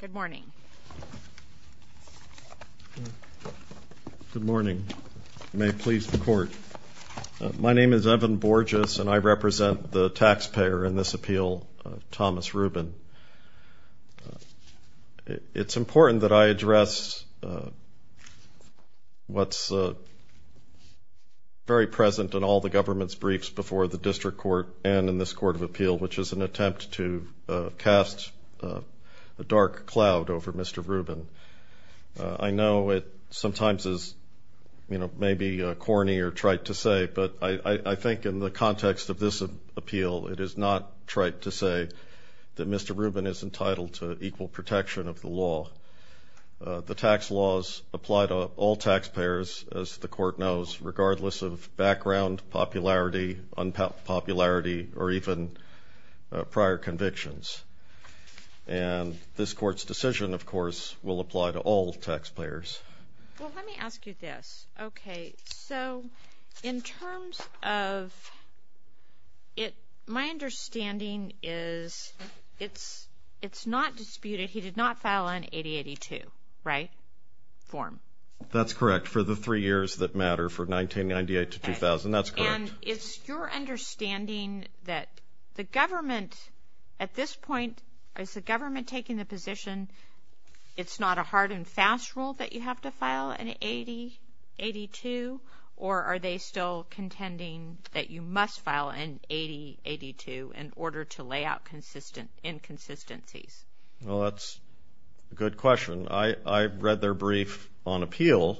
Good morning. Good morning. May it please the court. My name is Evan Borges and I represent the taxpayer in this appeal, Thomas Rubin. It's important that I address what's very present in all the government's briefs before the district court and in this court of appeal, which is an attempt to cast a dark cloud over Mr. Rubin. I know it sometimes is, you know, maybe corny or trite to say, but I think in the context of this appeal it is not trite to say that Mr. Rubin is entitled to equal protection of the law. The tax laws apply to all taxpayers, as the court knows, regardless of background, popularity, unpopularity, or even prior convictions. And this court's decision, of course, will apply to all taxpayers. Let me ask you this. Okay, so in terms of it, my understanding is it's it's not disputed. He did not file an 8082, right, form. That's correct. For the three years that matter, for 1998 to 2000, that's correct. And it's your understanding that the government, at this point, is the government taking the position it's not a hard-and-fast rule that you have to file an 8082, or are they still contending that you must file an 8082 in order to lay out consistent inconsistencies? Well, that's a good question. I read their brief on appeal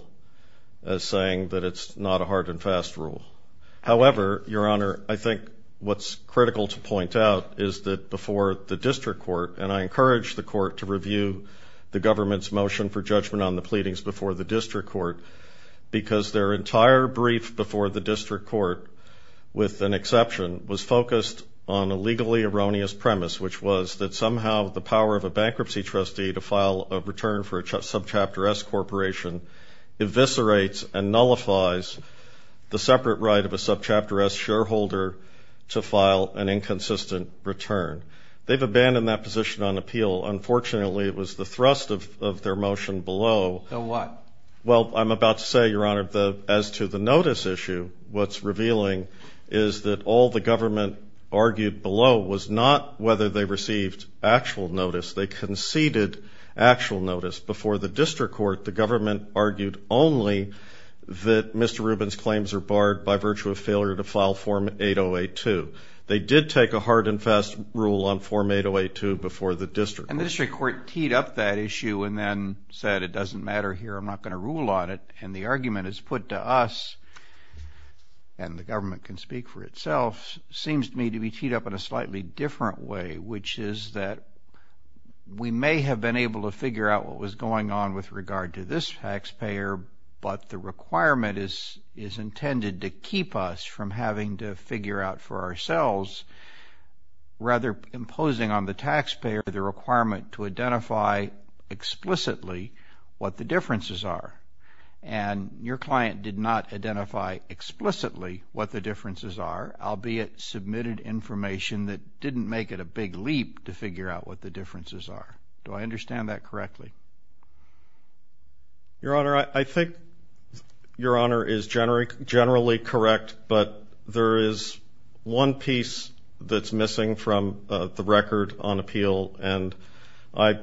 as saying that it's not a hard-and-fast rule. However, Your Honor, I think what's critical to point out is that before the district court, and I encourage the court to review the government's motion for judgment on the pleadings before the district court, because their entire brief before the district court, with an exception, was focused on a legally erroneous premise, which was that somehow the power of a bankruptcy trustee to file a return for a subchapter S corporation eviscerates and nullifies the separate right of a subchapter S shareholder to file an inconsistent return. They've abandoned that position on appeal. Unfortunately, it was the thrust of their motion below. So what? Well, I'm about to say, Your Honor, as to the notice issue, what's revealing is that all the government argued below was not whether they received actual notice. They government argued only that Mr. Rubin's claims are barred by virtue of failure to file Form 8082. They did take a hard-and-fast rule on Form 8082 before the district court. And the district court teed up that issue and then said, it doesn't matter here, I'm not going to rule on it. And the argument is put to us, and the government can speak for itself, seems to me to be teed up in a slightly different way, which is that we may have been able to figure out what was going on with regard to this taxpayer, but the requirement is intended to keep us from having to figure out for ourselves, rather imposing on the taxpayer the requirement to identify explicitly what the differences are. And your client did not identify explicitly what the differences are, albeit submitted information that didn't make it a big leap to figure out what the differences are. Do I understand that correctly? Your Honor, I think your Honor is generally correct, but there is one piece that's missing from the record on appeal, and I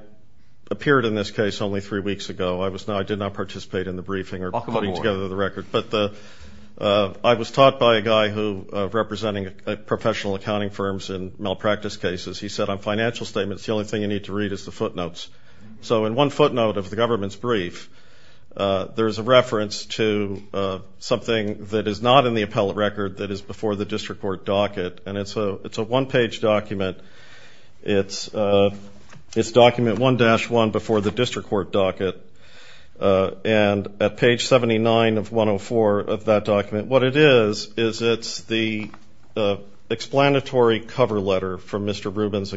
appeared in this case only three weeks ago. I did not participate in the briefing or putting together the record, but I was taught by a guy who, representing professional accounting firms in malpractice cases, he said on the read is the footnotes. So in one footnote of the government's brief, there's a reference to something that is not in the appellate record that is before the district court docket, and it's a one-page document. It's document 1-1 before the district court docket, and at page 79 of 104 of that document, what it is, is it's the explanatory cover letter from Mr. Rubin's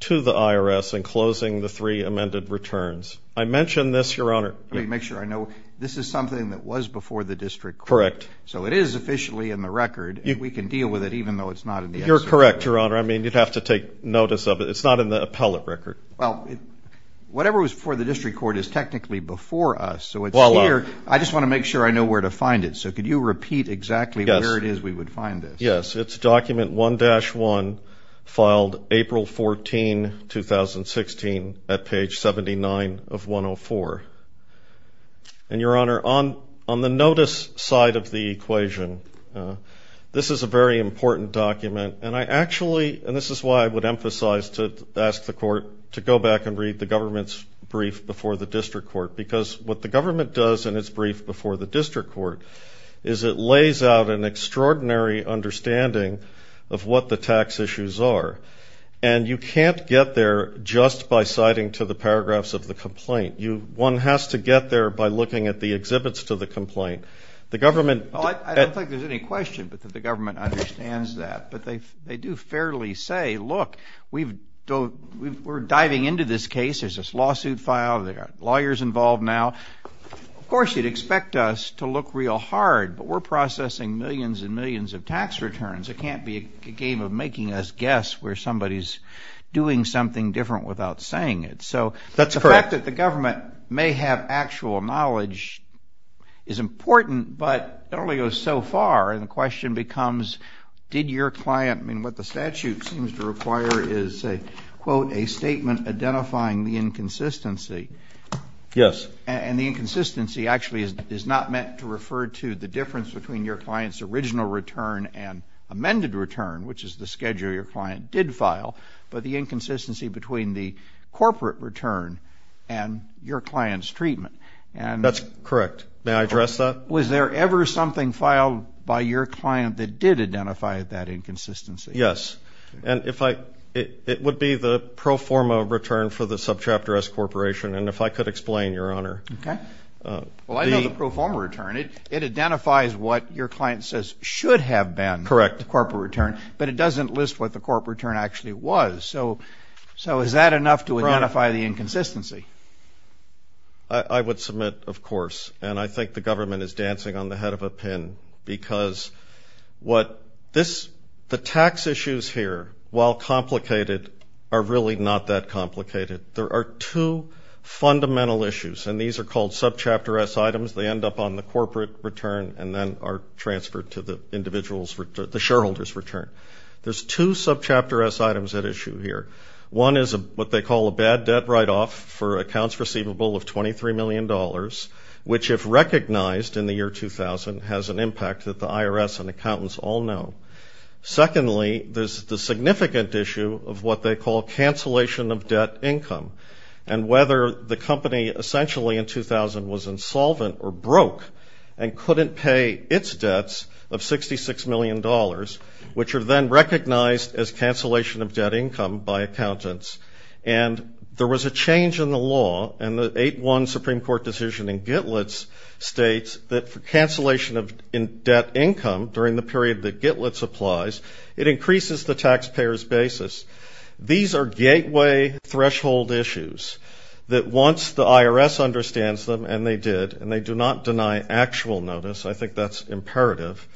IRS enclosing the three amended returns. I mentioned this, your Honor. Let me make sure I know. This is something that was before the district court. Correct. So it is officially in the record. We can deal with it even though it's not in the appellate record. You're correct, your Honor. I mean, you'd have to take notice of it. It's not in the appellate record. Well, whatever was before the district court is technically before us, so it's here. I just want to make sure I know where to find it. So could you repeat exactly where it is we would find this? Yes, it's document 1-1 filed April 14, 2016, at page 79 of 104. And your Honor, on the notice side of the equation, this is a very important document, and I actually, and this is why I would emphasize to ask the court to go back and read the government's brief before the district court, because what the government does in its brief before the district court is it lays out an extraordinary understanding of what the tax issues are. And you can't get there just by citing to the paragraphs of the complaint. You, one has to get there by looking at the exhibits to the complaint. The government... I don't think there's any question but that the government understands that. But they do fairly say, look, we've, we're diving into this case, there's this lawsuit file, there are lawyers involved now. Of course you'd expect us to look real hard, but we're processing millions and millions of tax returns. It can't be a game of making us guess where somebody's doing something different without saying it. So that's the fact that the government may have actual knowledge is important, but it only goes so far. And the question becomes, did your client, I mean what the statute seems to require is a quote, a statement identifying the inconsistency. Yes. And the inconsistency actually is not meant to refer to the difference between your client's original return and amended return, which is the schedule your client did file, but the inconsistency between the corporate return and your client's treatment. And... That's correct. May I address that? Was there ever something filed by your client that did identify that inconsistency? Yes. And if I, it would be the pro forma return for the Subchapter S Corporation. And if I could explain, Your Honor. Okay. Well I know the corporate return, it identifies what your client says should have been the corporate return, but it doesn't list what the corporate return actually was. So is that enough to identify the inconsistency? I would submit, of course, and I think the government is dancing on the head of a pin because what this, the tax issues here, while complicated, are really not that complicated. There are two fundamental issues, and these are called Subchapter S items. They end up on the corporate return and then are transferred to the individual's return, the shareholder's return. There's two Subchapter S items at issue here. One is what they call a bad debt write-off for accounts receivable of 23 million dollars, which if recognized in the year 2000 has an impact that the IRS and accountants all know. Secondly, there's the significant issue of what they call cancellation of debt income, and whether the company essentially in 2000 was insolvent or broke and couldn't pay its debts of 66 million dollars, which are then recognized as cancellation of debt income by accountants. And there was a change in the law, and the 8-1 Supreme Court decision in Gitlitz states that for cancellation of in debt income during the period that Gitlitz applies, it increases the taxpayer's basis. These are gateway threshold issues that once the IRS understands them, and they did, and they do not deny actual notice. I think that's imperative.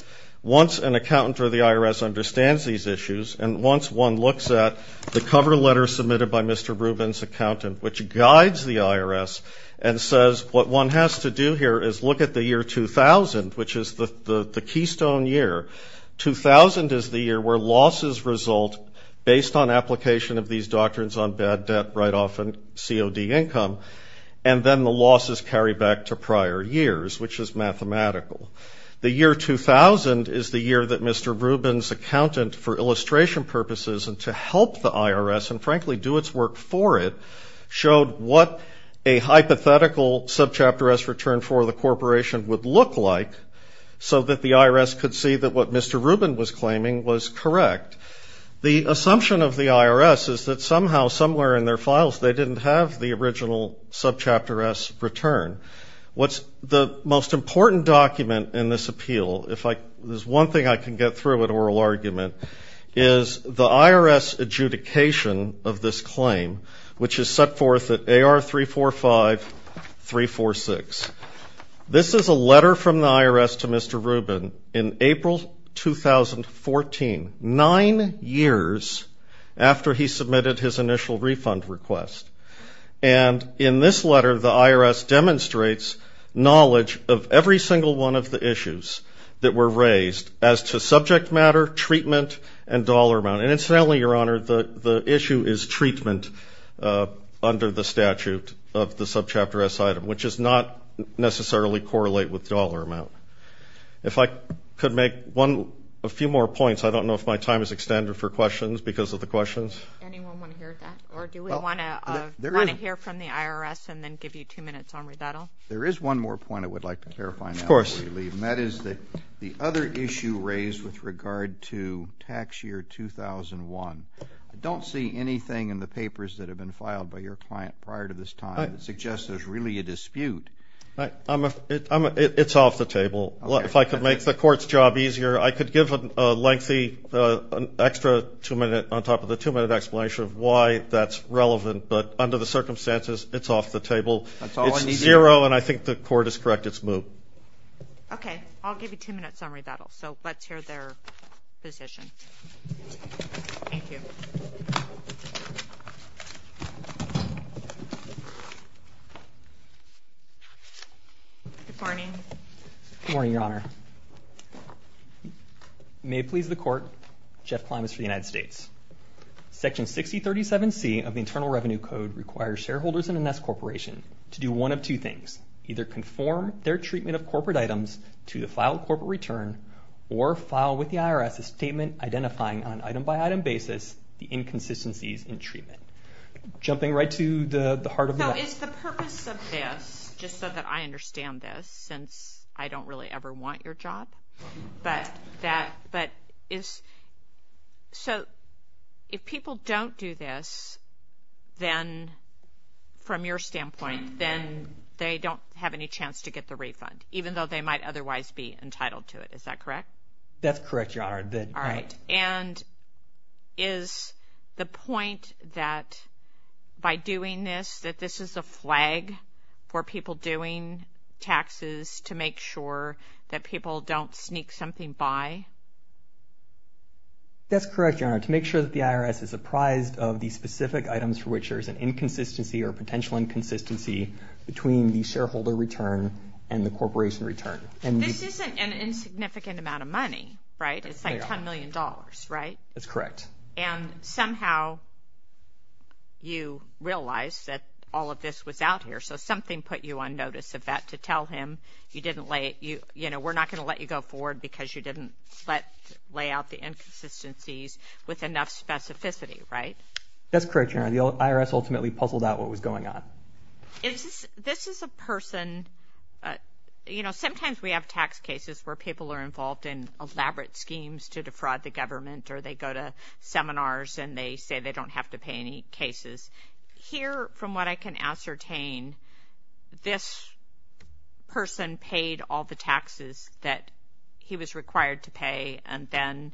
Once an accountant or the IRS understands these issues, and once one looks at the cover letter submitted by Mr. Rubin's accountant, which guides the IRS and says what one has to do here is look at the year 2000, which is the the the keystone year. 2000 is the year where losses result based on application of these doctrines on bad debt write-off and COD income, and then the losses carry back to prior years, which is mathematical. The year 2000 is the year that Mr. Rubin's accountant, for illustration purposes and to help the IRS and frankly do its work for it, showed what a hypothetical subchapter S return for the corporation would look like, so that the IRS could see that what Mr. Rubin was claiming was correct. The assumption of the IRS is that somehow somewhere in their files they didn't have the original subchapter S return. What's the most important document in this appeal, if I, there's one thing I can get through an oral argument, is the IRS adjudication of this claim, which is set forth at AR 345-346. This is a letter from the IRS to Mr. Rubin in his initial refund request, and in this letter the IRS demonstrates knowledge of every single one of the issues that were raised as to subject matter, treatment, and dollar amount. And incidentally, Your Honor, the the issue is treatment under the statute of the subchapter S item, which does not necessarily correlate with dollar amount. If I could make one, a few more points, I don't know if my time is extended for questions, because of the questions. There is one more point I would like to clarify. Of course. And that is that the other issue raised with regard to tax year 2001, I don't see anything in the papers that have been filed by your client prior to this time that suggests there's really a dispute. It's off the table. If I could make the court's job easier, I could give a lengthy, extra two-minute, on top of the two-minute explanation of why that's relevant, but under the circumstances, it's off the table. It's zero, and I think the court is correct. It's moved. Okay. I'll give you a two-minute summary of that all. So let's hear their position. Thank you. Good morning. Good morning, your honor. May it please the court, Jeff Klimas for the United States. Section 6037C of the Internal Revenue Code requires shareholders in an S corporation to do one of two things. Either conform their treatment of corporate items to the filed corporate return, or file with the inconsistencies in treatment. Jumping right to the heart of the matter. So is the purpose of this, just so that I understand this, since I don't really ever want your job, but that, but is, so if people don't do this, then, from your standpoint, then they don't have any chance to get the refund, even though they might otherwise be entitled to it. Is that correct? That's correct, your honor. All right. And is the point that by doing this, that this is a flag for people doing taxes to make sure that people don't sneak something by? That's correct, your honor. To make sure that the IRS is apprised of the specific items for which there's an inconsistency or potential inconsistency between the shareholder return and the corporation return. And this isn't an insignificant amount of ten million dollars, right? That's correct. And somehow you realize that all of this was out here, so something put you on notice of that to tell him you didn't lay it, you know, we're not going to let you go forward because you didn't let lay out the inconsistencies with enough specificity, right? That's correct, your honor. The IRS ultimately puzzled out what was going on. Is this, this is a person, you know, sometimes we have tax cases where people are involved in elaborate schemes to defraud the government or they go to seminars and they say they don't have to pay any cases. Here, from what I can ascertain, this person paid all the taxes that he was required to pay and then,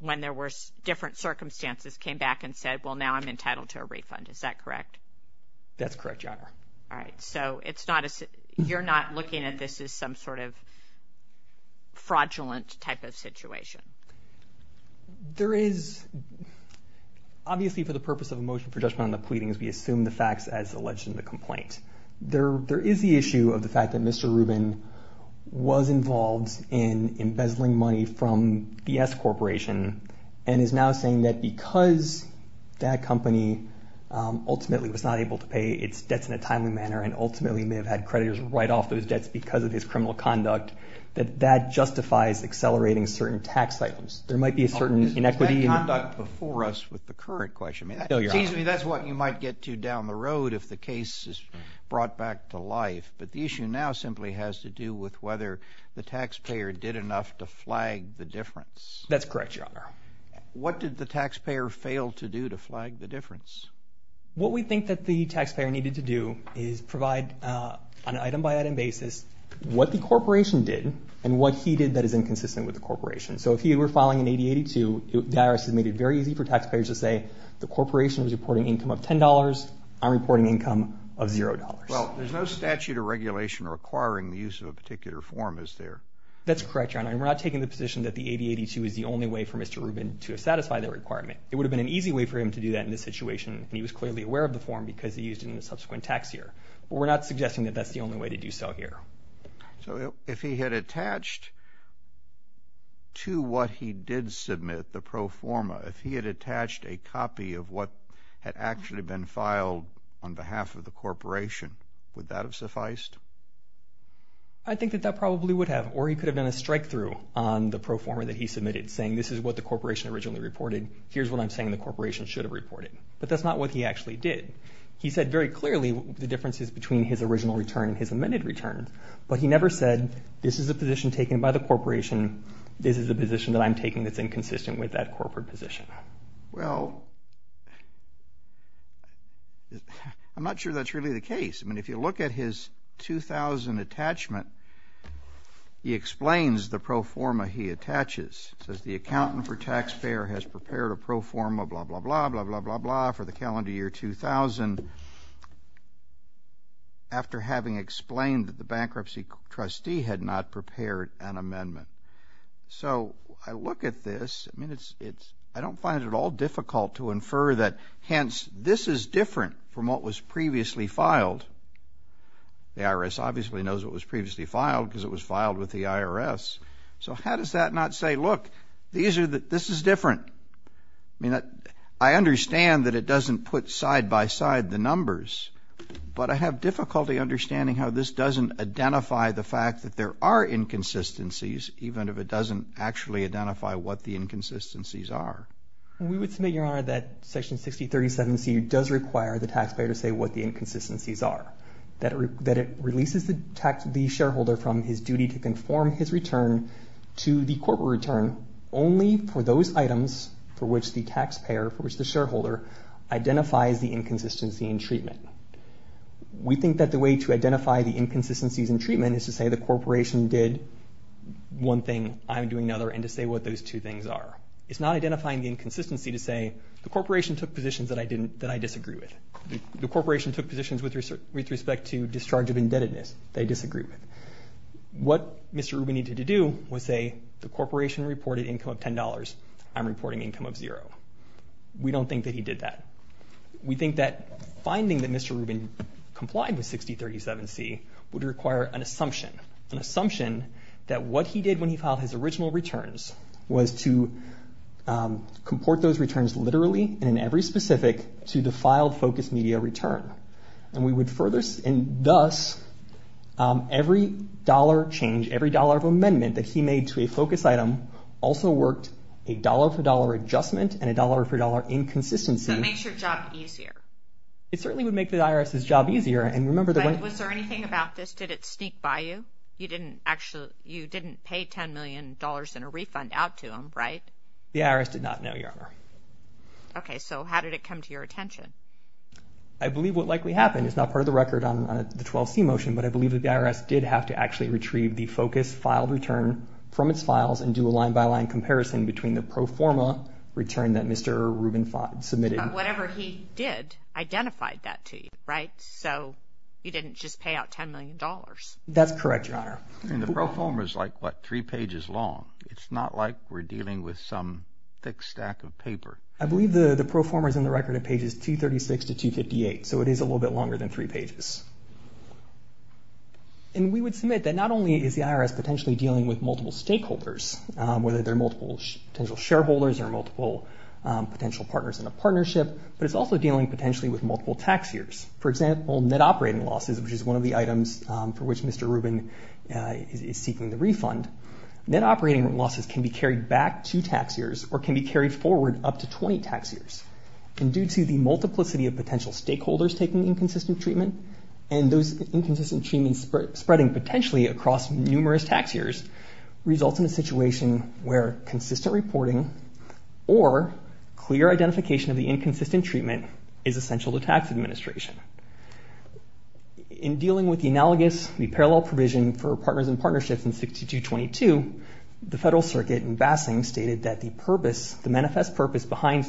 when there were different circumstances, came back and said, well now I'm entitled to a refund. Is that correct? That's correct, your honor. All right. So it's not a, you're not looking at this as some sort of fraudulent type of situation. There is, obviously for the purpose of a motion for judgment on the pleadings, we assume the facts as alleged in the complaint. There, there is the issue of the fact that Mr. Rubin was involved in embezzling money from the S Corporation and is now saying that because that company ultimately was not able to pay its debts in a timely manner and ultimately may have had creditors write off those debts because of his criminal conduct, that that justifies accelerating certain tax items. There might be a certain inequity. Is that conduct before us with the current question? Excuse me, that's what you might get to down the road if the case is brought back to life, but the issue now simply has to do with whether the taxpayer did enough to flag the difference. That's correct, your honor. What did the taxpayer fail to do to flag the difference? What we think that the taxpayer needed to do is provide on an item-by-item basis what the corporation did and what he did that is inconsistent with the corporation. So if he were filing an 8082, the IRS has made it very easy for taxpayers to say the corporation was reporting income of ten dollars, I'm reporting income of zero dollars. Well, there's no statute or regulation requiring the use of a particular form, is there? That's correct, your honor, and we're not taking the position that the 8082 is the only way for Mr. Rubin to satisfy that requirement. It would have been an easy way for him to do that in this situation. He was clearly aware of the form because he used it in the subsequent tax year. We're not suggesting that that's the only way to do so here. So if he had attached to what he did submit, the pro forma, if he had attached a copy of what had actually been filed on behalf of the corporation, would that have sufficed? I think that that probably would have, or he could have done a strikethrough on the pro forma that he submitted, saying this is what the corporation originally reported, here's what I'm saying the corporation should have reported. But that's not what he actually did. He said very clearly the differences between his original return and his amended returns, but he never said this is a position taken by the corporation, this is a position that I'm taking that's inconsistent with that corporate position. Well, I'm not sure that's really the case. I mean, if you look at his 2000 attachment, he explains the pro forma he attaches. It says the pro forma blah blah blah blah blah blah blah for the calendar year 2000, after having explained that the bankruptcy trustee had not prepared an amendment. So I look at this, I mean, it's, it's, I don't find it at all difficult to infer that hence this is different from what was previously filed. The IRS obviously knows what was previously filed because it was filed with the IRS. So how does that not say, look, these are, this is different. I mean, I understand that it doesn't put side-by-side the numbers, but I have difficulty understanding how this doesn't identify the fact that there are inconsistencies, even if it doesn't actually identify what the inconsistencies are. We would submit, Your Honor, that Section 6037C does require the taxpayer to say what the inconsistencies are. That it releases the tax, the shareholder from his duty to conform his return to the corporate return only for those items for which the taxpayer, for which the shareholder, identifies the inconsistency in treatment. We think that the way to identify the inconsistencies in treatment is to say the corporation did one thing, I'm doing another, and to say what those two things are. It's not identifying the inconsistency to say the corporation took positions that I didn't, that I disagree with. The corporation took positions with respect to discharge of indebtedness that I didn't. What Mr. Rubin needed to do was say the corporation reported income of $10, I'm reporting income of zero. We don't think that he did that. We think that finding that Mr. Rubin complied with 6037C would require an assumption, an assumption that what he did when he filed his original returns was to comport those returns literally and in every specific to the filed focus media return. And we believe that every dollar change, every dollar of amendment that he made to a focus item also worked a dollar-for-dollar adjustment and a dollar-for-dollar inconsistency. So it makes your job easier. It certainly would make the IRS's job easier and remember Was there anything about this, did it sneak by you? You didn't actually, you didn't pay ten million dollars in a refund out to him, right? The IRS did not know, Your Honor. Okay, so how did it come to your attention? I believe what likely happened, it's not part of the record on the 12C motion, but I believe that the IRS did have to actually retrieve the focus file return from its files and do a line-by-line comparison between the pro forma return that Mr. Rubin submitted. Whatever he did identified that to you, right? So you didn't just pay out ten million dollars. That's correct, Your Honor. And the pro forma is like what, three pages long. It's not like we're dealing with some thick stack of paper. I believe the the pro forma is in the record of pages 236 to 258, so it is a little bit longer than three pages. And we would submit that not only is the IRS potentially dealing with multiple stakeholders, whether they're multiple potential shareholders or multiple potential partners in a partnership, but it's also dealing potentially with multiple tax years. For example, net operating losses, which is one of the items for which Mr. Rubin is seeking the refund, net operating losses can be carried back two tax years or can be carried forward up to 20 tax years. And due to the multiplicity of potential stakeholders taking inconsistent treatment, and those inconsistent treatments spreading potentially across numerous tax years, results in a situation where consistent reporting or clear identification of the inconsistent treatment is essential to tax administration. In dealing with the analogous, the parallel provision for partners and partnerships in 6222, the Federal Circuit in Bassing stated that the purpose, the manifest purpose behind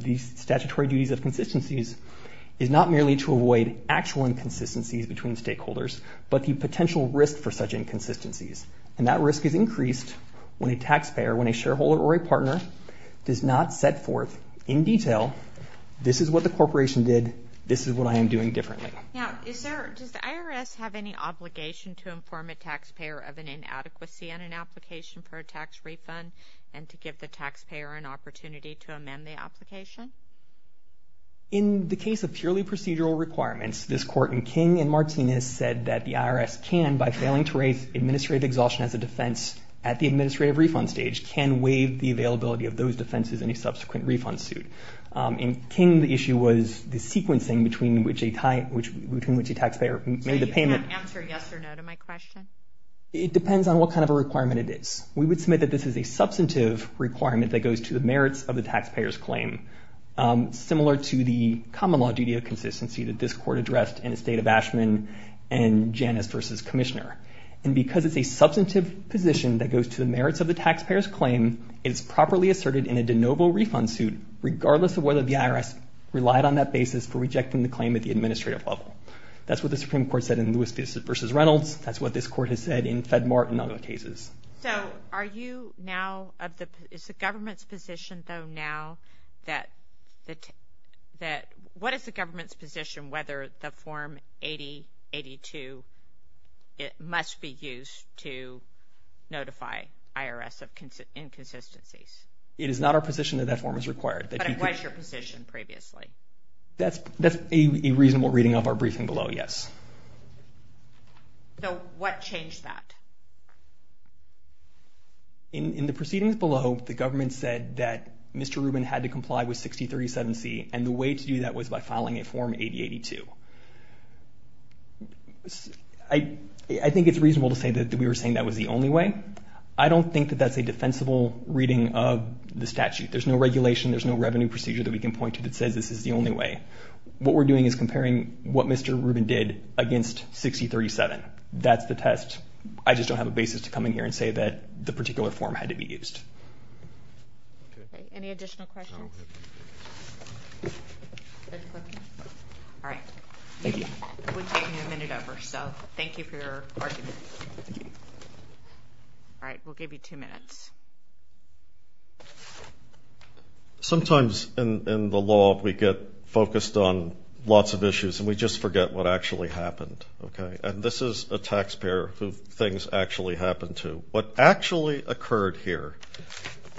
these statutory duties of consistencies is not merely to avoid actual inconsistencies between stakeholders, but the potential risk for such inconsistencies. And that risk is increased when a taxpayer, when a shareholder or a partner does not set forth in detail, this is what the corporation did, this is what I am doing differently. Now, does the IRS have any obligation to inform a taxpayer of an inadequacy in an application for a tax refund and to give the taxpayer an In the case of purely procedural requirements, this court in King and Martinez said that the IRS can, by failing to raise administrative exhaustion as a defense at the administrative refund stage, can waive the availability of those defenses in a subsequent refund suit. In King, the issue was the sequencing between which a taxpayer made the payment. So you can't answer yes or no to my question? It depends on what kind of a requirement it is. We would submit that this is a similar to the common law duty of consistency that this court addressed in the state of Ashman and Janus versus Commissioner. And because it's a substantive position that goes to the merits of the taxpayer's claim, it is properly asserted in a de novo refund suit, regardless of whether the IRS relied on that basis for rejecting the claim at the administrative level. That's what the Supreme Court said in Lewis v. Reynolds. That's what this court has said in FedMart and other cases. So are you now, is the government's position, though, now that the, that, what is the government's position whether the form 8082, it must be used to notify IRS of inconsistencies? It is not our position that that form is required. But it was your position previously. That's, that's a reasonable reading of our briefing below, yes. So what changed that? In, in the proceedings below, the government said that Mr. Rubin had to comply with 6037C. And the way to do that was by filing a form 8082. I, I think it's reasonable to say that we were saying that was the only way. I don't think that that's a defensible reading of the statute. There's no regulation. There's no revenue procedure that we can point to that says this is the only way. What we're doing is comparing what Mr. Rubin did against 6037. That's the test. I just don't have a basis to come in here and say that the particular form had to be used. Any additional questions? All right. Thank you. We've taken a minute over, so thank you for your argument. All right. We'll give you two minutes. Sometimes in, in the law, we get focused on lots of issues and we just forget what actually happened. Okay. And this is a taxpayer who things actually happened to. What actually occurred here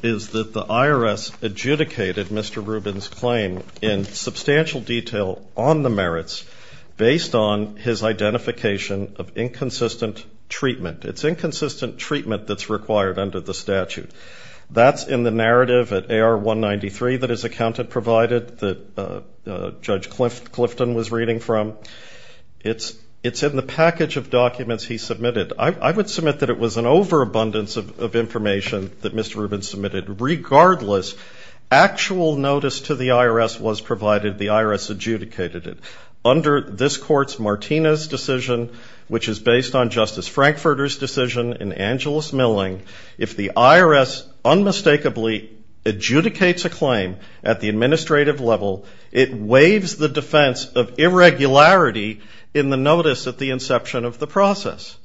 is that the IRS adjudicated Mr. Rubin's claim in substantial detail on the merits based on his identification of inconsistent treatment. It's inconsistent treatment that's required under the statute. That's in the narrative at AR193 that his accountant provided that Judge Clifton was reading from. It's, it's in the package of documents he submitted. I would submit that it was an overabundance of, of information that Mr. Rubin submitted, regardless actual notice to the IRS was provided. The IRS adjudicated it under this court's Martinez decision, which is based on Justice Frankfurter's decision in Angeles Milling. If the IRS unmistakably adjudicates a claim at the administrative level, it waives the defense of irregularity in the notice at the inception of the process.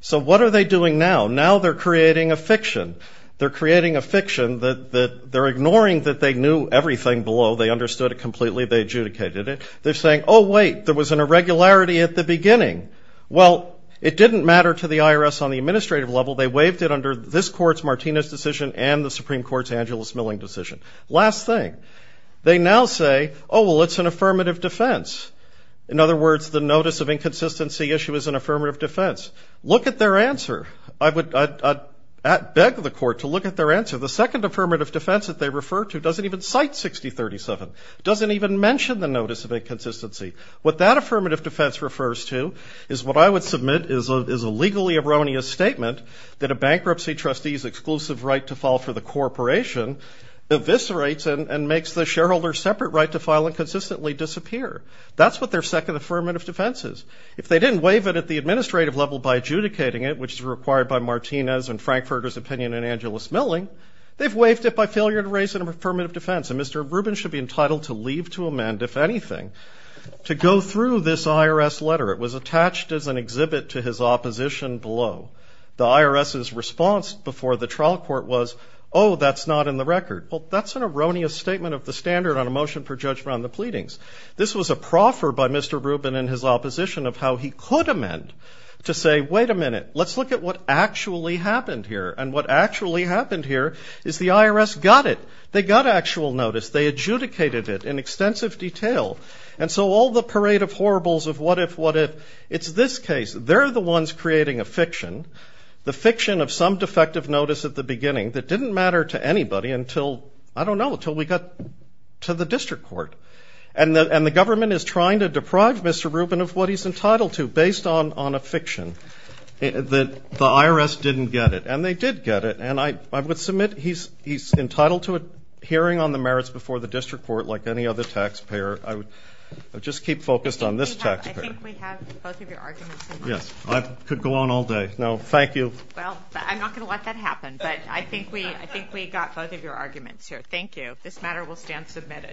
So what are they doing now? Now they're creating a fiction. They're creating a fiction that, that they're ignoring that they knew everything below. They understood it completely. They adjudicated it. They're saying, oh wait, there was an irregularity at the beginning. Well, it didn't matter to the IRS on the administrative level. They waived it under this court's Martinez decision and the Supreme Court's Angeles Milling decision. Last thing, they now say, oh, well, it's an affirmative defense. In other words, the notice of inconsistency issue is an affirmative defense. Look at their answer. I would, I, I beg the court to look at their answer. The second affirmative defense that they refer to doesn't even cite 6037. It doesn't even mention the notice of inconsistency. What that affirmative defense refers to is what I would submit is a, is a legally erroneous statement that a bankruptcy trustee's exclusive right to file for the corporation eviscerates and, and makes the shareholder separate right to file and consistently disappear. That's what their second affirmative defense is. If they didn't waive it at the administrative level by adjudicating it, which is required by Martinez and Frankfurter's opinion and Angeles Milling, they've waived it by failure to raise an affirmative defense. And Mr. Rubin should be entitled to leave to amend, if anything, to go through this IRS letter. It was attached as an exhibit to his opposition below. The IRS's response before the trial court was, oh, that's not in the record. Well, that's an erroneous statement of the standard on a motion for judgment on the pleadings. This was a proffer by Mr. Rubin and his opposition of how he could amend to say, wait a minute, let's look at what actually happened here. And what actually happened here is the IRS got it. They got actual notice. They adjudicated it in extensive detail. And so all the parade of horribles of what if, what if it's this case, they're the fiction, the fiction of some defective notice at the beginning that didn't matter to anybody until, I don't know, until we got to the district court and the, and the government is trying to deprive Mr. Rubin of what he's entitled to based on, on a fiction that the IRS didn't get it. And they did get it. And I, I would submit he's, he's entitled to a hearing on the merits before the district court, like any other taxpayer. I would just keep focused on this taxpayer. Yes. I could go on all day. No, thank you. Well, I'm not going to let that happen, but I think we, I think we got both of your arguments here. Thank you. This matter will stand submitted.